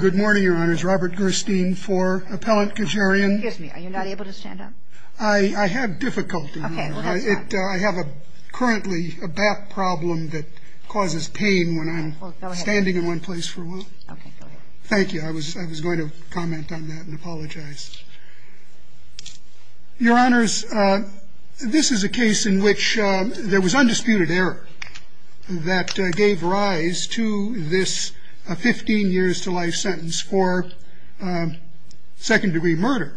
Good morning, Your Honors. Robert Gerstein for Appellant Khajarian. Excuse me, are you not able to stand up? I have difficulty. I have currently a back problem that causes pain when I'm standing in one place for a while. Okay, go ahead. Thank you. I was going to comment on that and apologize. Your Honors, this is a case in which there was undisputed error that gave rise to this 15 years to life sentence for second degree murder.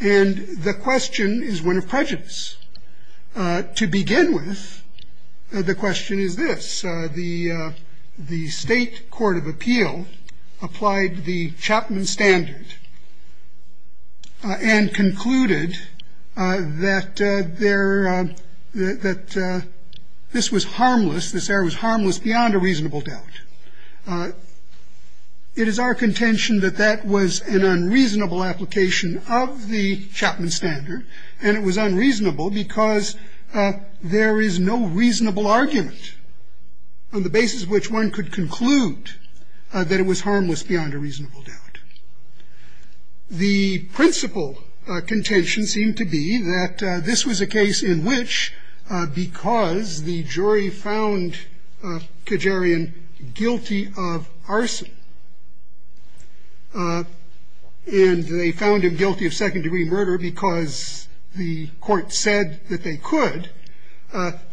And the question is one of prejudice. To begin with, the question is this. The the state court of appeal applied the Chapman standard and concluded that there that this was harmless. This error was harmless beyond a reasonable doubt. It is our contention that that was an unreasonable application of the Chapman standard. And it was unreasonable because there is no reasonable argument on the basis of which one could conclude that it was harmless beyond a reasonable doubt. The principal contention seemed to be that this was a case in which because the jury found Khajarian guilty of arson, and they found him guilty of second degree murder because the court said that they could, that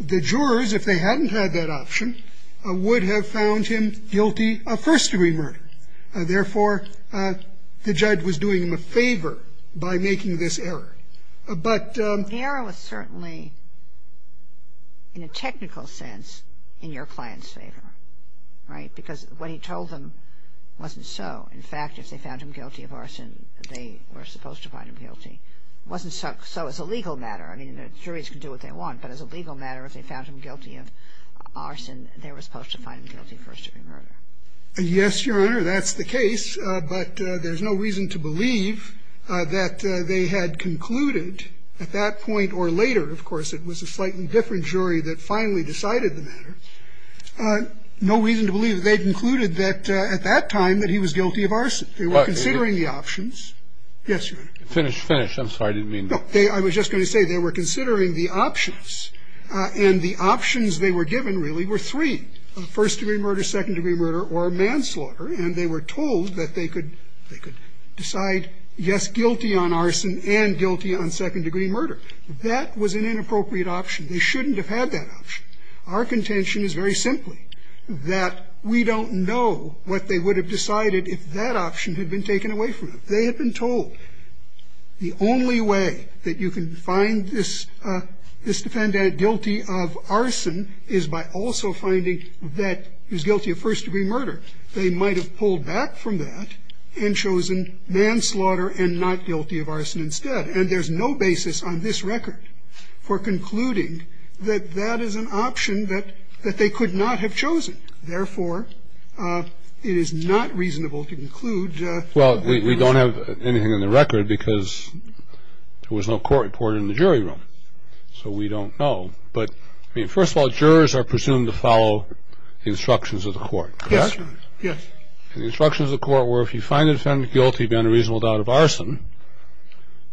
the jurors, if they hadn't had that option, would have found him guilty of first degree murder. Therefore, the judge was doing him a favor by making this error. But the error was certainly in a technical sense in your client's favor, right? Because what he told them wasn't so. In fact, if they found him guilty of arson, they were supposed to find him guilty. It wasn't so as a legal matter. I mean, the juries can do what they want. But as a legal matter, if they found him guilty of arson, they were supposed to find him guilty of first degree murder. Yes, Your Honor, that's the case. But there's no reason to believe that they had concluded at that point or later. Of course, it was a slightly different jury that finally decided the matter. No reason to believe they concluded that at that time that he was guilty of arson. They were considering the options. Yes, Your Honor. Finish, finish. I'm sorry. I didn't mean to. No. I was just going to say they were considering the options. And the options they were given, really, were three. First degree murder, second degree murder, or manslaughter. And they were told that they could decide, yes, guilty on arson, and guilty on second degree murder. That was an inappropriate option. They shouldn't have had that option. Our contention is very simply that we don't know what they would have decided if that option had been taken away from them. They had been told the only way that you can find this defendant guilty of arson is by also finding that he was guilty of first degree murder. They might have pulled back from that and chosen manslaughter and not guilty of arson instead. And there's no basis on this record for concluding that that is an option that they could not have chosen. Therefore, it is not reasonable to conclude. Well, we don't have anything on the record because there was no court report in the jury room. So we don't know. But, I mean, first of all, jurors are presumed to follow the instructions of the court, correct? Yes. And the instructions of the court were if you find the defendant guilty beyond a reasonable doubt of arson,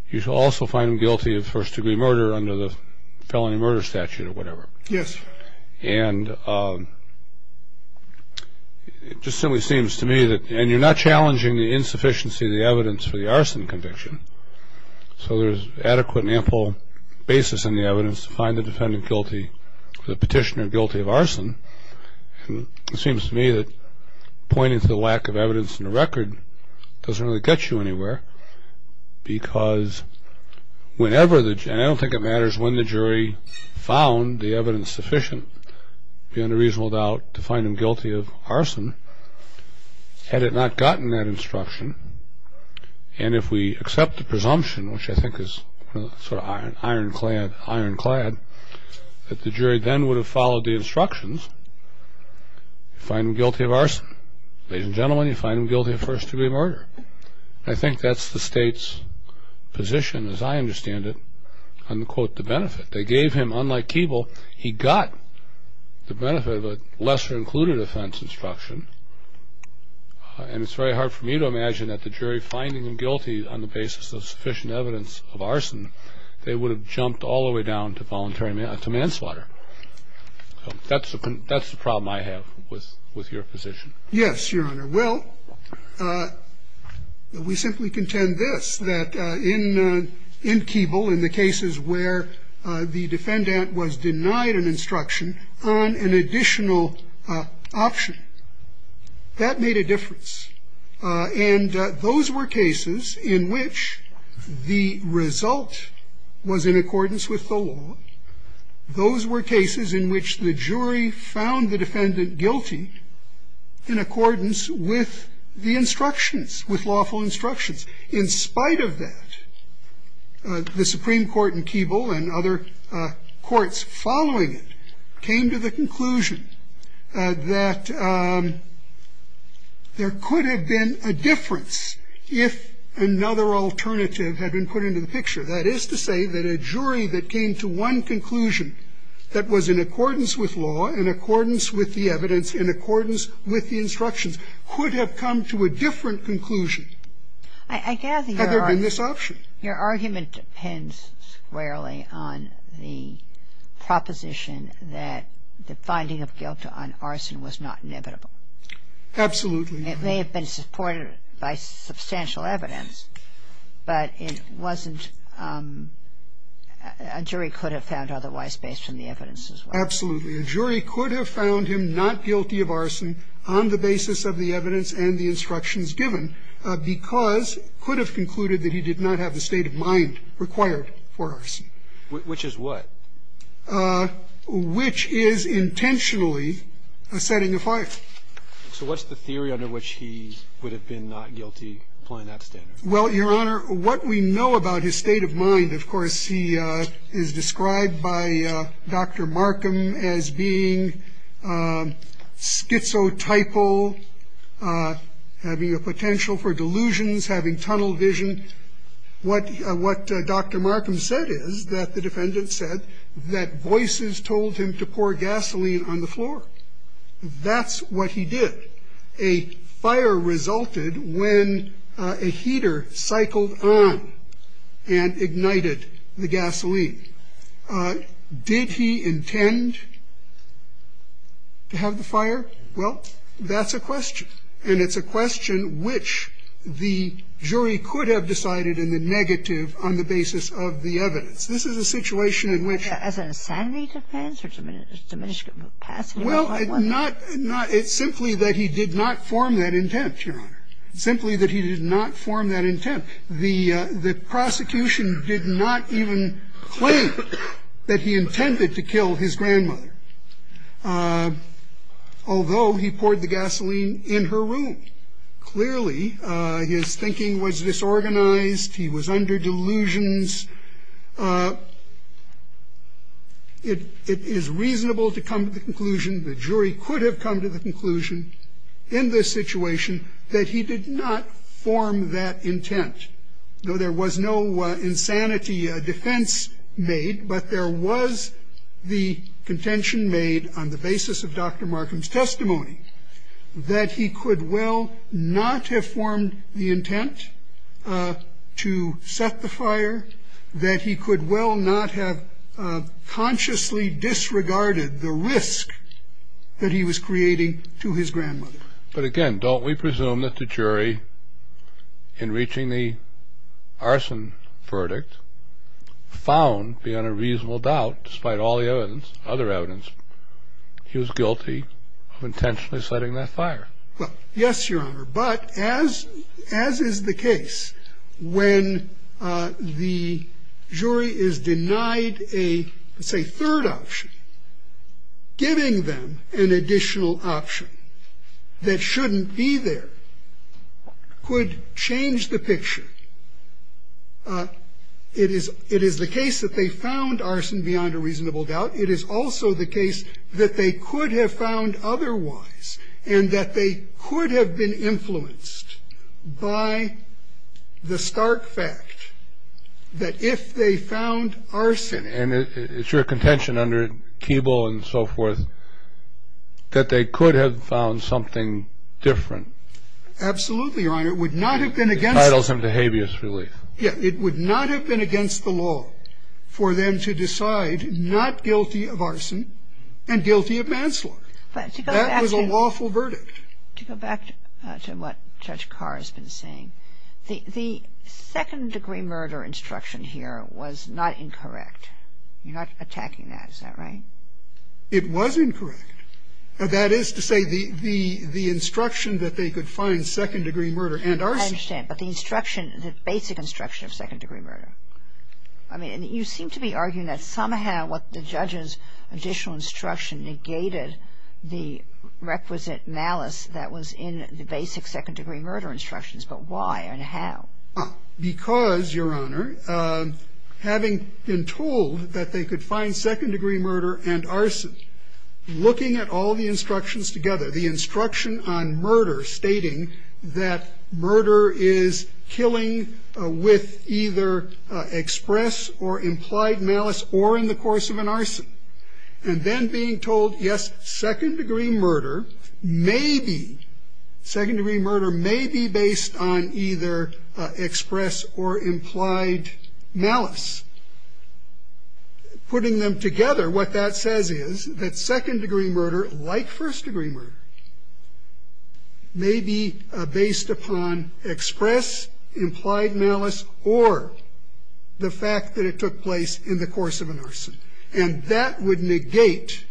you shall also find him guilty of first degree murder under the felony murder statute or whatever. Yes. And it just simply seems to me that, and you're not challenging the insufficiency of the evidence for the arson conviction, so there's adequate and ample basis in the evidence to find the defendant guilty, the petitioner guilty of arson. And it seems to me that pointing to the lack of evidence in the record doesn't really get you anywhere because whenever the, and I don't think it matters when the jury found the evidence sufficient, beyond a reasonable doubt, to find him guilty of arson, had it not gotten that instruction, and if we accept the presumption, which I think is sort of iron clad, that the jury then would have followed the instructions, find him guilty of arson. Ladies and gentlemen, you find him guilty of first degree murder. And I think that's the state's position, as I understand it, on, quote, the benefit. They gave him, unlike Keeble, he got the benefit of a lesser included offense instruction. And it's very hard for me to imagine that the jury finding him guilty on the basis of sufficient evidence of arson, they would have jumped all the way down to voluntary, to manslaughter. That's the problem I have with your position. Yes, Your Honor. Well, we simply contend this, that in Keeble, in the cases where the defendant was denied an instruction on an additional option, that made a difference. And those were cases in which the result was in accordance with the law. Those were cases in which the jury found the defendant guilty in accordance with the instructions, with lawful instructions. In spite of that, the Supreme Court in Keeble and other courts following it came to the conclusion that there could have been a difference if another alternative had been put into the picture. That is to say that a jury that came to one conclusion that was in accordance with law, in accordance with the evidence, in accordance with the instructions could have come to a different conclusion had there been this option. I gather your argument depends squarely on the proposition that the finding of guilt on arson was not inevitable. Absolutely. It may have been supported by substantial evidence, but it wasn't – a jury could have found otherwise based on the evidence as well. Absolutely. A jury could have found him not guilty of arson on the basis of the evidence and the instructions given, because could have concluded that he did not have the state of mind required for arson. Which is what? Which is intentionally a setting of fire. So what's the theory under which he would have been not guilty, applying that standard? Well, Your Honor, what we know about his state of mind, of course, he is described by Dr. Markham as being schizotypal, having a potential for delusions, having tunnel vision. What Dr. Markham said is that the defendant said that voices told him to pour gasoline on the floor. That's what he did. And he said that a fire resulted when a heater cycled on and ignited the gasoline. Did he intend to have the fire? Well, that's a question. And it's a question which the jury could have decided in the negative on the basis of the evidence. This is a situation in which – As an insanity defense or diminished capacity? Well, it's simply that he did not form that intent, Your Honor. Simply that he did not form that intent. The prosecution did not even claim that he intended to kill his grandmother, although he poured the gasoline in her room. Clearly, his thinking was disorganized. He was under delusions. It is reasonable to come to the conclusion, the jury could have come to the conclusion in this situation, that he did not form that intent. Though there was no insanity defense made, but there was the contention made on the basis of Dr. Markham's testimony that he could well not have formed the intent to set the fire, that he could well not have consciously disregarded the risk that he was creating to his grandmother. But again, don't we presume that the jury, in reaching the arson verdict, found beyond a reasonable doubt, despite all the evidence, other evidence, he was guilty of intentionally setting that fire? Well, yes, Your Honor. But as is the case, when the jury is denied a, say, third option, giving them an additional option that shouldn't be there could change the picture. It is the case that they found arson beyond a reasonable doubt. It is also the case that they could have found otherwise and that they could have been influenced by the stark fact that if they found arson. And it's your contention under Keeble and so forth that they could have found something different. Absolutely, Your Honor. It would not have been against them. It entitles them to habeas relief. Yes. It would not have been against the law for them to decide not guilty of arson and guilty of manslaughter. That was a lawful verdict. To go back to what Judge Carr has been saying, the second-degree murder instruction here was not incorrect. You're not attacking that. Is that right? It was incorrect. That is to say the instruction that they could find second-degree murder and arson. I understand. But the instruction, the basic instruction of second-degree murder. I mean, you seem to be arguing that somehow what the judge's additional instruction negated the requisite malice that was in the basic second-degree murder instructions. But why and how? Because, Your Honor, having been told that they could find second-degree murder and arson, looking at all the instructions together, the instruction on murder stating that murder is killing with either express or implied malice or in the course of an arson. And then being told, yes, second-degree murder may be, second-degree murder may be based on either express or implied malice. Putting them together, what that says is that second-degree murder, like first-degree murder, may be based upon express, implied malice, or the fact that it took place in the course of an arson. And that would negate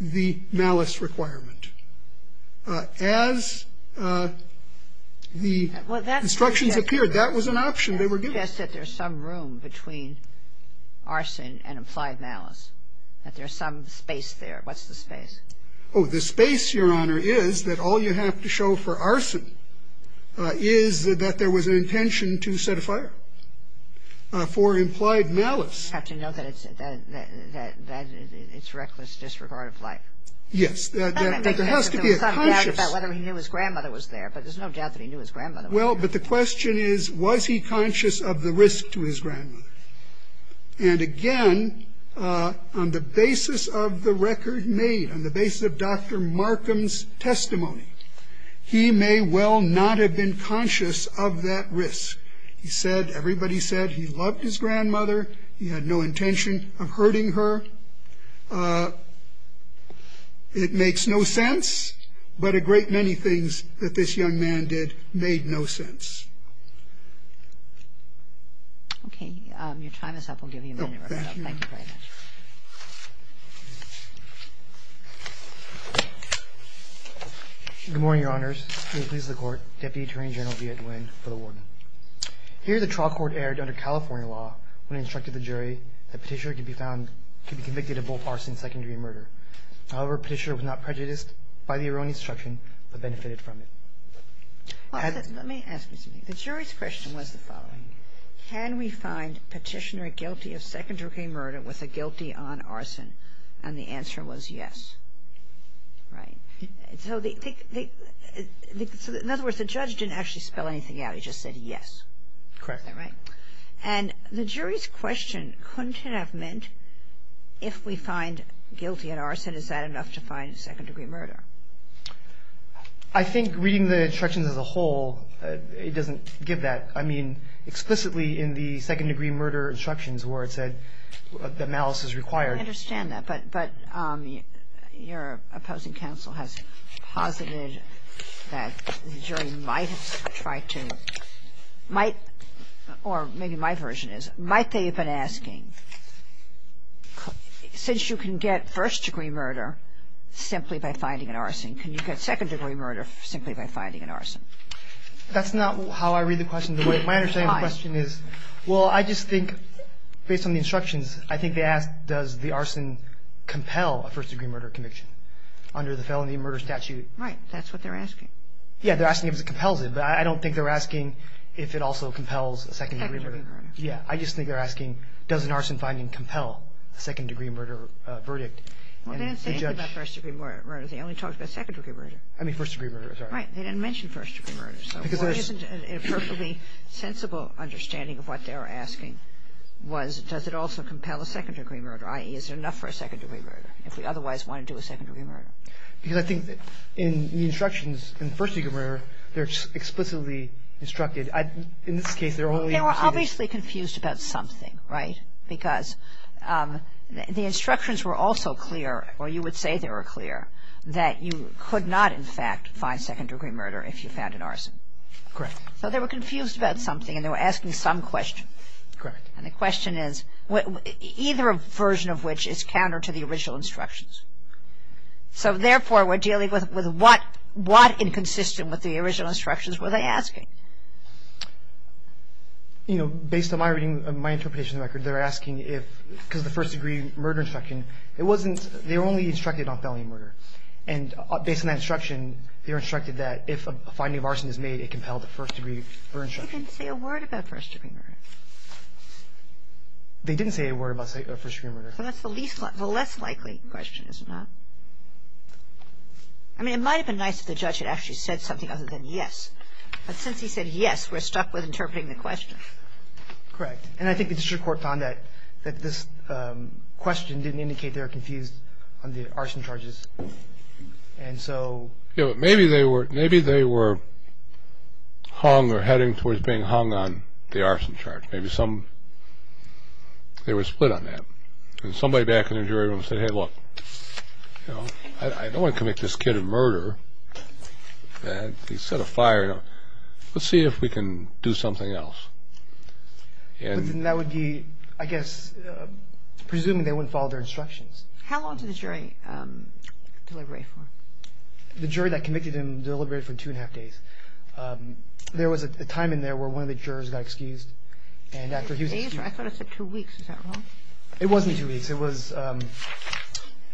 the malice requirement. As the instructions appeared, that was an option they were given. But that suggests that there's some room between arson and implied malice, that there's some space there. What's the space? Oh, the space, Your Honor, is that all you have to show for arson is that there was an intention to set a fire. Now, the question is, was he conscious of the risk to his grandmother? And again, on the basis of the record made, on the basis of Dr. Markham's testimony, he may well not have been conscious of that risk. I don't know. I don't know. And I guess what I would say is that, as I said, everybody said he loved his grandmother. He had no intention of hurting her. It makes no sense. But a great many things that this young man did made no sense. Okay. Your time is up. We'll give you a minute to wrap it up. Thank you very much. Thank you. Good morning, Your Honors. It pleases the Court, Deputy Attorney General V. Edwin, for the warning. Here, the trial court erred under California law when it instructed the jury that Petitioner could be found to be convicted of both arson and secondary murder. However, Petitioner was not prejudiced by the erroneous instruction but benefited from it. Let me ask you something. The jury's question was the following. Can we find Petitioner guilty of secondary murder with a guilty on arson? And the answer was yes. Right. So in other words, the judge didn't actually spell anything out. He just said yes. Correct. All right. And the jury's question couldn't have meant if we find guilty on arson, is that enough to find secondary murder? I think reading the instructions as a whole, it doesn't give that. I mean, explicitly in the second-degree murder instructions where it said that malice is required. I understand that. But your opposing counsel has posited that the jury might try to, might, or maybe my version is, might they have been asking, since you can get first-degree murder simply by finding an arson, can you get second-degree murder simply by finding an arson? That's not how I read the question. My understanding of the question is, well, I just think based on the instructions, I think they asked does the arson compel a first-degree murder conviction under the felony murder statute. Right. That's what they're asking. Yeah. They're asking if it compels it. But I don't think they're asking if it also compels a second-degree murder. Second-degree murder. Yeah. I just think they're asking does an arson finding compel a second-degree murder verdict. Well, they didn't say anything about first-degree murder. They only talked about second-degree murder. I mean first-degree murder. Right. They didn't mention first-degree murder. So what is a perfectly sensible understanding of what they were asking was does it also compel a second-degree murder, i.e., is it enough for a second-degree murder if we otherwise want to do a second-degree murder? Because I think in the instructions in first-degree murder, they're explicitly instructed. In this case, they're only going to say this. They were obviously confused about something, right? Because the instructions were also clear, or you would say they were clear, that you could not, in fact, find second-degree murder if you found an arson. Correct. So they were confused about something, and they were asking some question. Correct. And the question is, either version of which is counter to the original instructions. So, therefore, we're dealing with what inconsistent with the original instructions were they asking? You know, based on my reading of my interpretation of the record, they're asking if, because of the first-degree murder instruction, it wasn't they were only instructed on felony murder. And based on that instruction, they were instructed that if a finding of arson is made, it compelled the first-degree murder instruction. They didn't say a word about first-degree murder. They didn't say a word about first-degree murder. So that's the least – the less likely question, is it not? I mean, it might have been nice if the judge had actually said something other than yes. But since he said yes, we're stuck with interpreting the question. Correct. And I think the district court found that this question didn't indicate they were confused on the arson charges. And so – Yeah, but maybe they were hung or heading towards being hung on the arson charge. Maybe some – they were split on that. And somebody back in the jury room said, hey, look, you know, I don't want to commit this kid a murder. He set a fire. Let's see if we can do something else. And that would be, I guess, presuming they wouldn't follow their instructions. How long did the jury deliberate for? The jury that convicted him deliberated for two and a half days. There was a time in there where one of the jurors got excused. And after he was excused – I thought it said two weeks. Is that wrong? It wasn't two weeks. It was –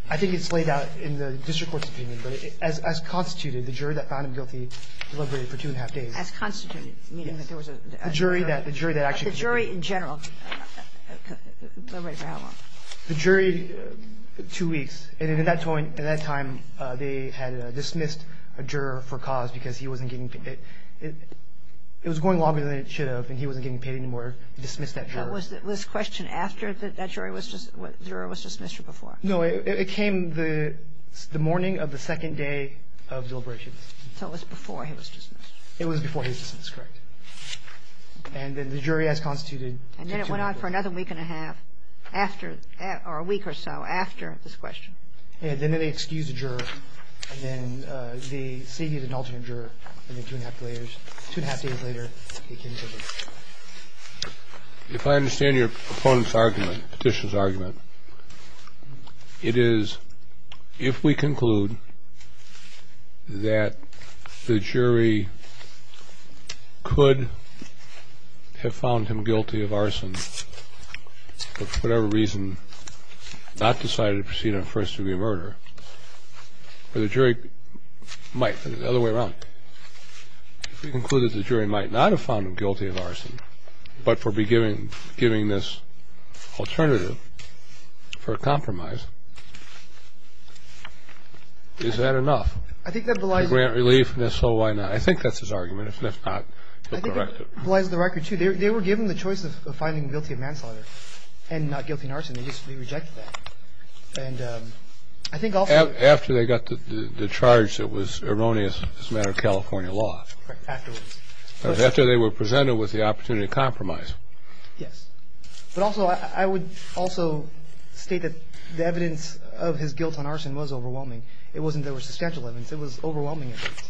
I think it's laid out in the district court's opinion. But as constituted, the jury that found him guilty deliberated for two and a half days. As constituted, meaning that there was a juror – The jury that actually – The jury in general deliberated for how long? The jury – two weeks. And at that time, they had dismissed a juror for cause because he wasn't getting paid. It was going longer than it should have, and he wasn't getting paid anymore. They dismissed that juror. Was this question after that jury was – juror was dismissed or before? No, it came the morning of the second day of deliberations. So it was before he was dismissed. It was before he was dismissed. Correct. And then the jury, as constituted – And then it went on for another week and a half after – or a week or so after this question. And then they excused the juror. And then they seated an alternate juror. And then two and a half days later, they came to a decision. If I understand your opponent's argument, Petitioner's argument, it is if we conclude that the jury could have found him guilty of arson for whatever reason, not decided to proceed on a first-degree murder, or the jury might – the other way around. If we conclude that the jury might not have found him guilty of arson but for giving this alternative for a compromise, is that enough? I think that belies – To grant relief, and if so, why not? I think that's his argument. If that's not, he'll correct it. I think that belies the record, too. They were given the choice of finding guilty of manslaughter and not guilty of arson. They just rejected that. And I think also – After they got the charge that was erroneous as a matter of California law. Correct. Afterwards. After they were presented with the opportunity to compromise. Yes. But also, I would also state that the evidence of his guilt on arson was overwhelming. It wasn't that there were substantial evidence. It was overwhelming evidence.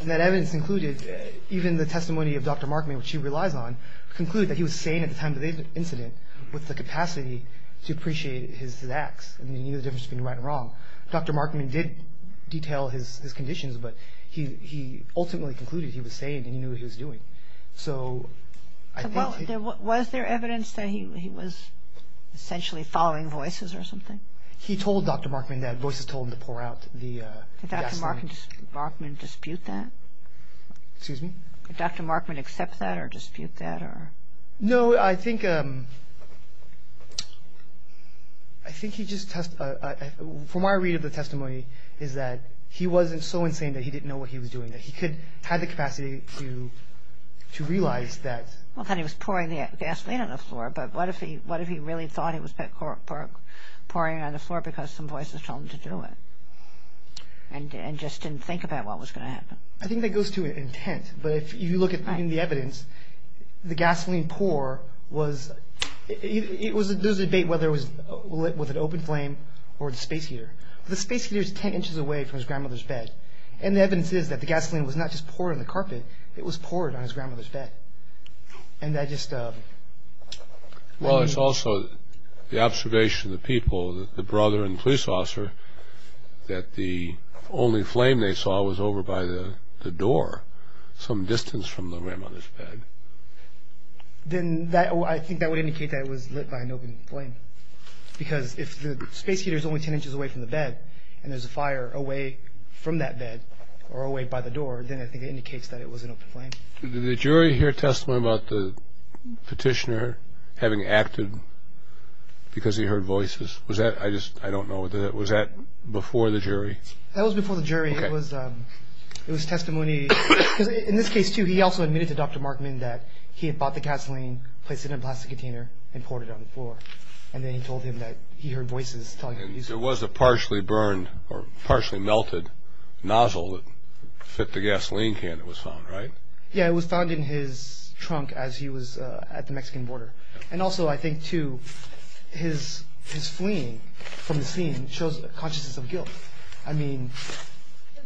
And that evidence included even the testimony of Dr. Markman, which he relies on, concluded that he was sane at the time of the incident with the capacity to appreciate his acts. And he knew the difference between right and wrong. Dr. Markman did detail his conditions, but he ultimately concluded he was sane and he knew what he was doing. Was there evidence that he was essentially following voices or something? He told Dr. Markman that. Voices told him to pour out the gasoline. Did Dr. Markman dispute that? Excuse me? Did Dr. Markman accept that or dispute that? No, I think he just – from what I read of the testimony is that he wasn't so insane that he didn't know what he was doing. That he had the capacity to realize that. Well, then he was pouring the gasoline on the floor, but what if he really thought he was pouring it on the floor because some voices told him to do it and just didn't think about what was going to happen? I think that goes to intent. But if you look at the evidence, the gasoline pour was – there was a debate whether it was lit with an open flame or the space heater. The space heater is 10 inches away from his grandmother's bed. And the evidence is that the gasoline was not just poured on the carpet. It was poured on his grandmother's bed. And that just – Well, it's also the observation of the people, the brother and police officer, that the only flame they saw was over by the door some distance from the grandmother's bed. Then I think that would indicate that it was lit by an open flame. Because if the space heater is only 10 inches away from the bed and there's a fire away from that bed or away by the door, then I think it indicates that it was an open flame. Did the jury hear testimony about the petitioner having acted because he heard voices? Was that – I just – I don't know. Was that before the jury? That was before the jury. It was testimony. Because in this case, too, he also admitted to Dr. Markman that he had bought the gasoline, placed it in a plastic container, and poured it on the floor. And then he told him that he heard voices talking. And there was a partially burned or partially melted nozzle that fit the gasoline can that was found, right? Yeah, it was found in his trunk as he was at the Mexican border. And also, I think, too, his fleeing from the scene shows a consciousness of guilt. I mean,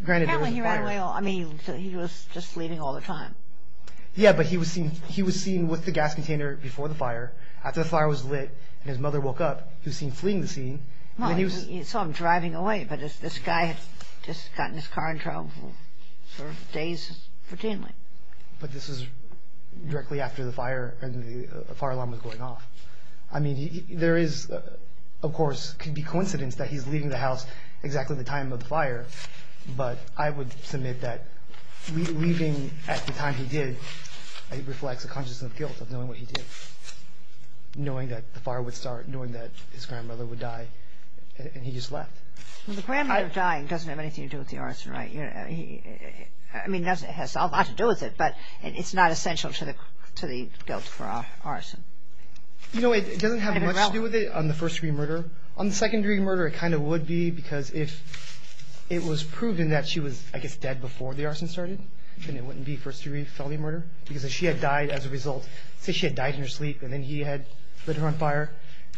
granted, there was a fire. I mean, he was just fleeing all the time. Yeah, but he was seen with the gas container before the fire. After the fire was lit and his mother woke up, he was seen fleeing the scene. Well, you saw him driving away, but this guy had just gotten his car in trouble for days, routinely. But this was directly after the fire and the fire alarm was going off. I mean, there is, of course, it could be coincidence that he's leaving the house exactly at the time of the fire. But I would submit that leaving at the time he did, it reflects a consciousness of guilt of knowing what he did, knowing that the fire would start, knowing that his grandmother would die, and he just left. Well, the grandmother dying doesn't have anything to do with the arson, right? I mean, it has a lot to do with it, but it's not essential to the guilt for arson. You know, it doesn't have much to do with it on the first-degree murder. On the second-degree murder, it kind of would be because if it was proven that she was, I guess, dead before the arson started, then it wouldn't be first-degree felony murder. Because if she had died as a result, say she had died in her sleep, and then he had lit her on fire,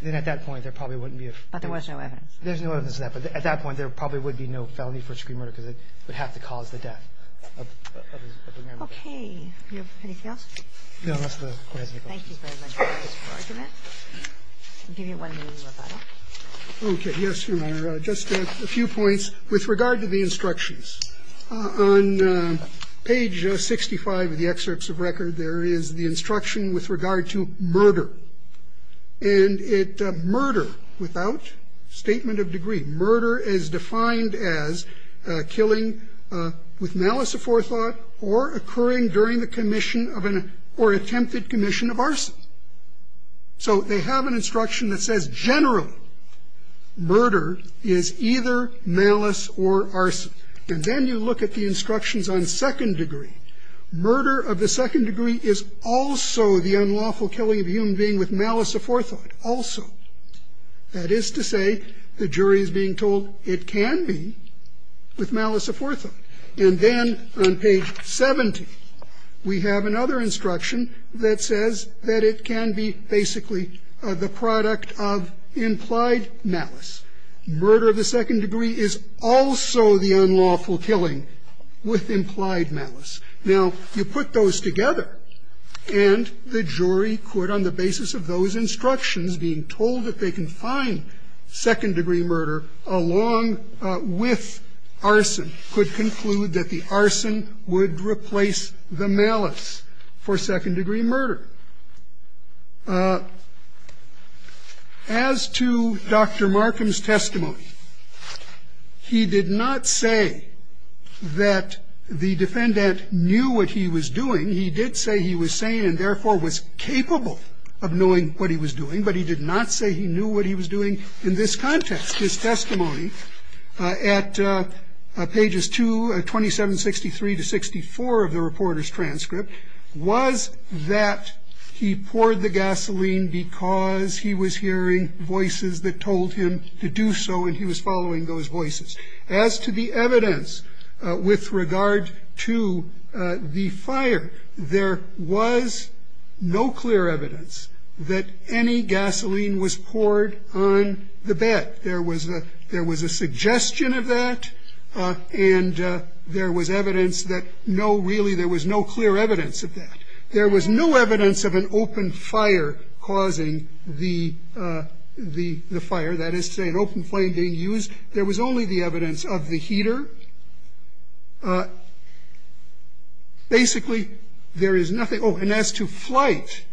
then at that point, there probably wouldn't be a first-degree murder. But there was no evidence. There's no evidence of that. But at that point, there probably would be no felony first-degree murder because it would have to cause the death of his grandmother. Okay. Do you have anything else? No, that's all. Thank you very much for your argument. I'll give you one minute. Okay. Yes, Your Honor. Just a few points with regard to the instructions. On page 65 of the excerpts of record, there is the instruction with regard to murder. And it --"murder without statement of degree." Murder is defined as killing with malice aforethought or occurring during the commission of an or attempted commission of arson. So they have an instruction that says generally murder is either malice or arson. And then you look at the instructions on second degree. Murder of the second degree is also the unlawful killing of a human being with malice aforethought. Also. That is to say the jury is being told it can be with malice aforethought. And then on page 70, we have another instruction that says that it can be basically the product of implied malice. Murder of the second degree is also the unlawful killing with implied malice. Now, you put those together and the jury could, on the basis of those instructions being told that they can find second degree murder along with arson, could conclude that the arson would replace the malice for second degree murder. As to Dr. Markham's testimony, he did not say that the defendant knew what he was doing. He did say he was sane and therefore was capable of knowing what he was doing. But he did not say he knew what he was doing in this context. His testimony at pages 2, 2763 to 64 of the reporter's transcript was that he poured the gasoline because he was hearing voices that told him to do so and he was following those voices. As to the evidence with regard to the fire, there was no clear evidence that any gasoline was poured on the bed. There was a suggestion of that and there was evidence that no, really there was no clear evidence of that. There was no evidence of an open fire causing the fire, that is to say an open flame being used. There was only the evidence of the heater. Basically, there is nothing. Oh, and as to Flight,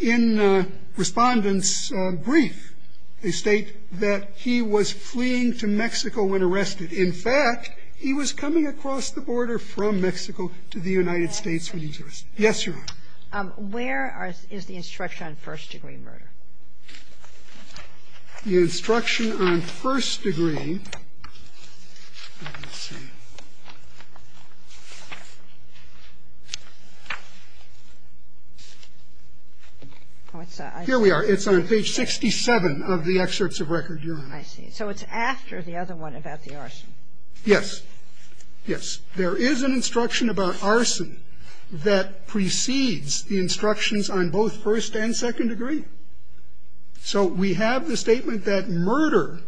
in Respondent's brief, they state that he was fleeing to Mexico when arrested. In fact, he was coming across the border from Mexico to the United States when he was arrested. Yes, Your Honor. Where is the instruction on first degree murder? The instruction on first degree, let's see, here we are. It's on page 67 of the excerpts of record, Your Honor. I see. So it's after the other one about the arson. Yes. Yes. There is an instruction about arson that precedes the instructions on both first and second degree. So we have the statement that murder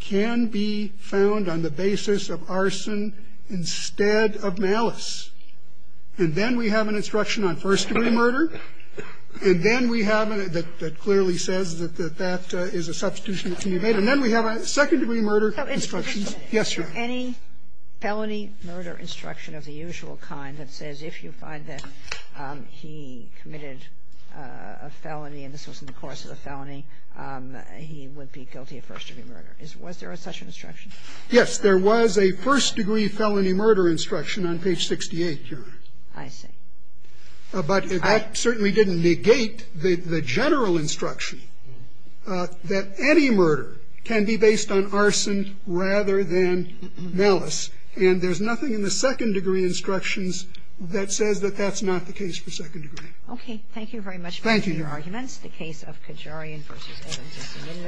can be found on the basis of arson instead of malice. And then we have an instruction on first degree murder. And then we have, that clearly says that that is a substitution that can be made. And then we have a second degree murder instruction. Yes, Your Honor. Any felony murder instruction of the usual kind that says if you find that he committed a felony, and this was in the course of the felony, he would be guilty of first degree murder. Was there such an instruction? Yes. There was a first degree felony murder instruction on page 68, Your Honor. I see. But that certainly didn't negate the general instruction that any murder can be based on arson rather than malice. And there's nothing in the second degree instructions that says that that's not the case for second degree. Okay. Thank you very much for your arguments. Thank you, Your Honor. The case of Kajarian v. Evans is submitted.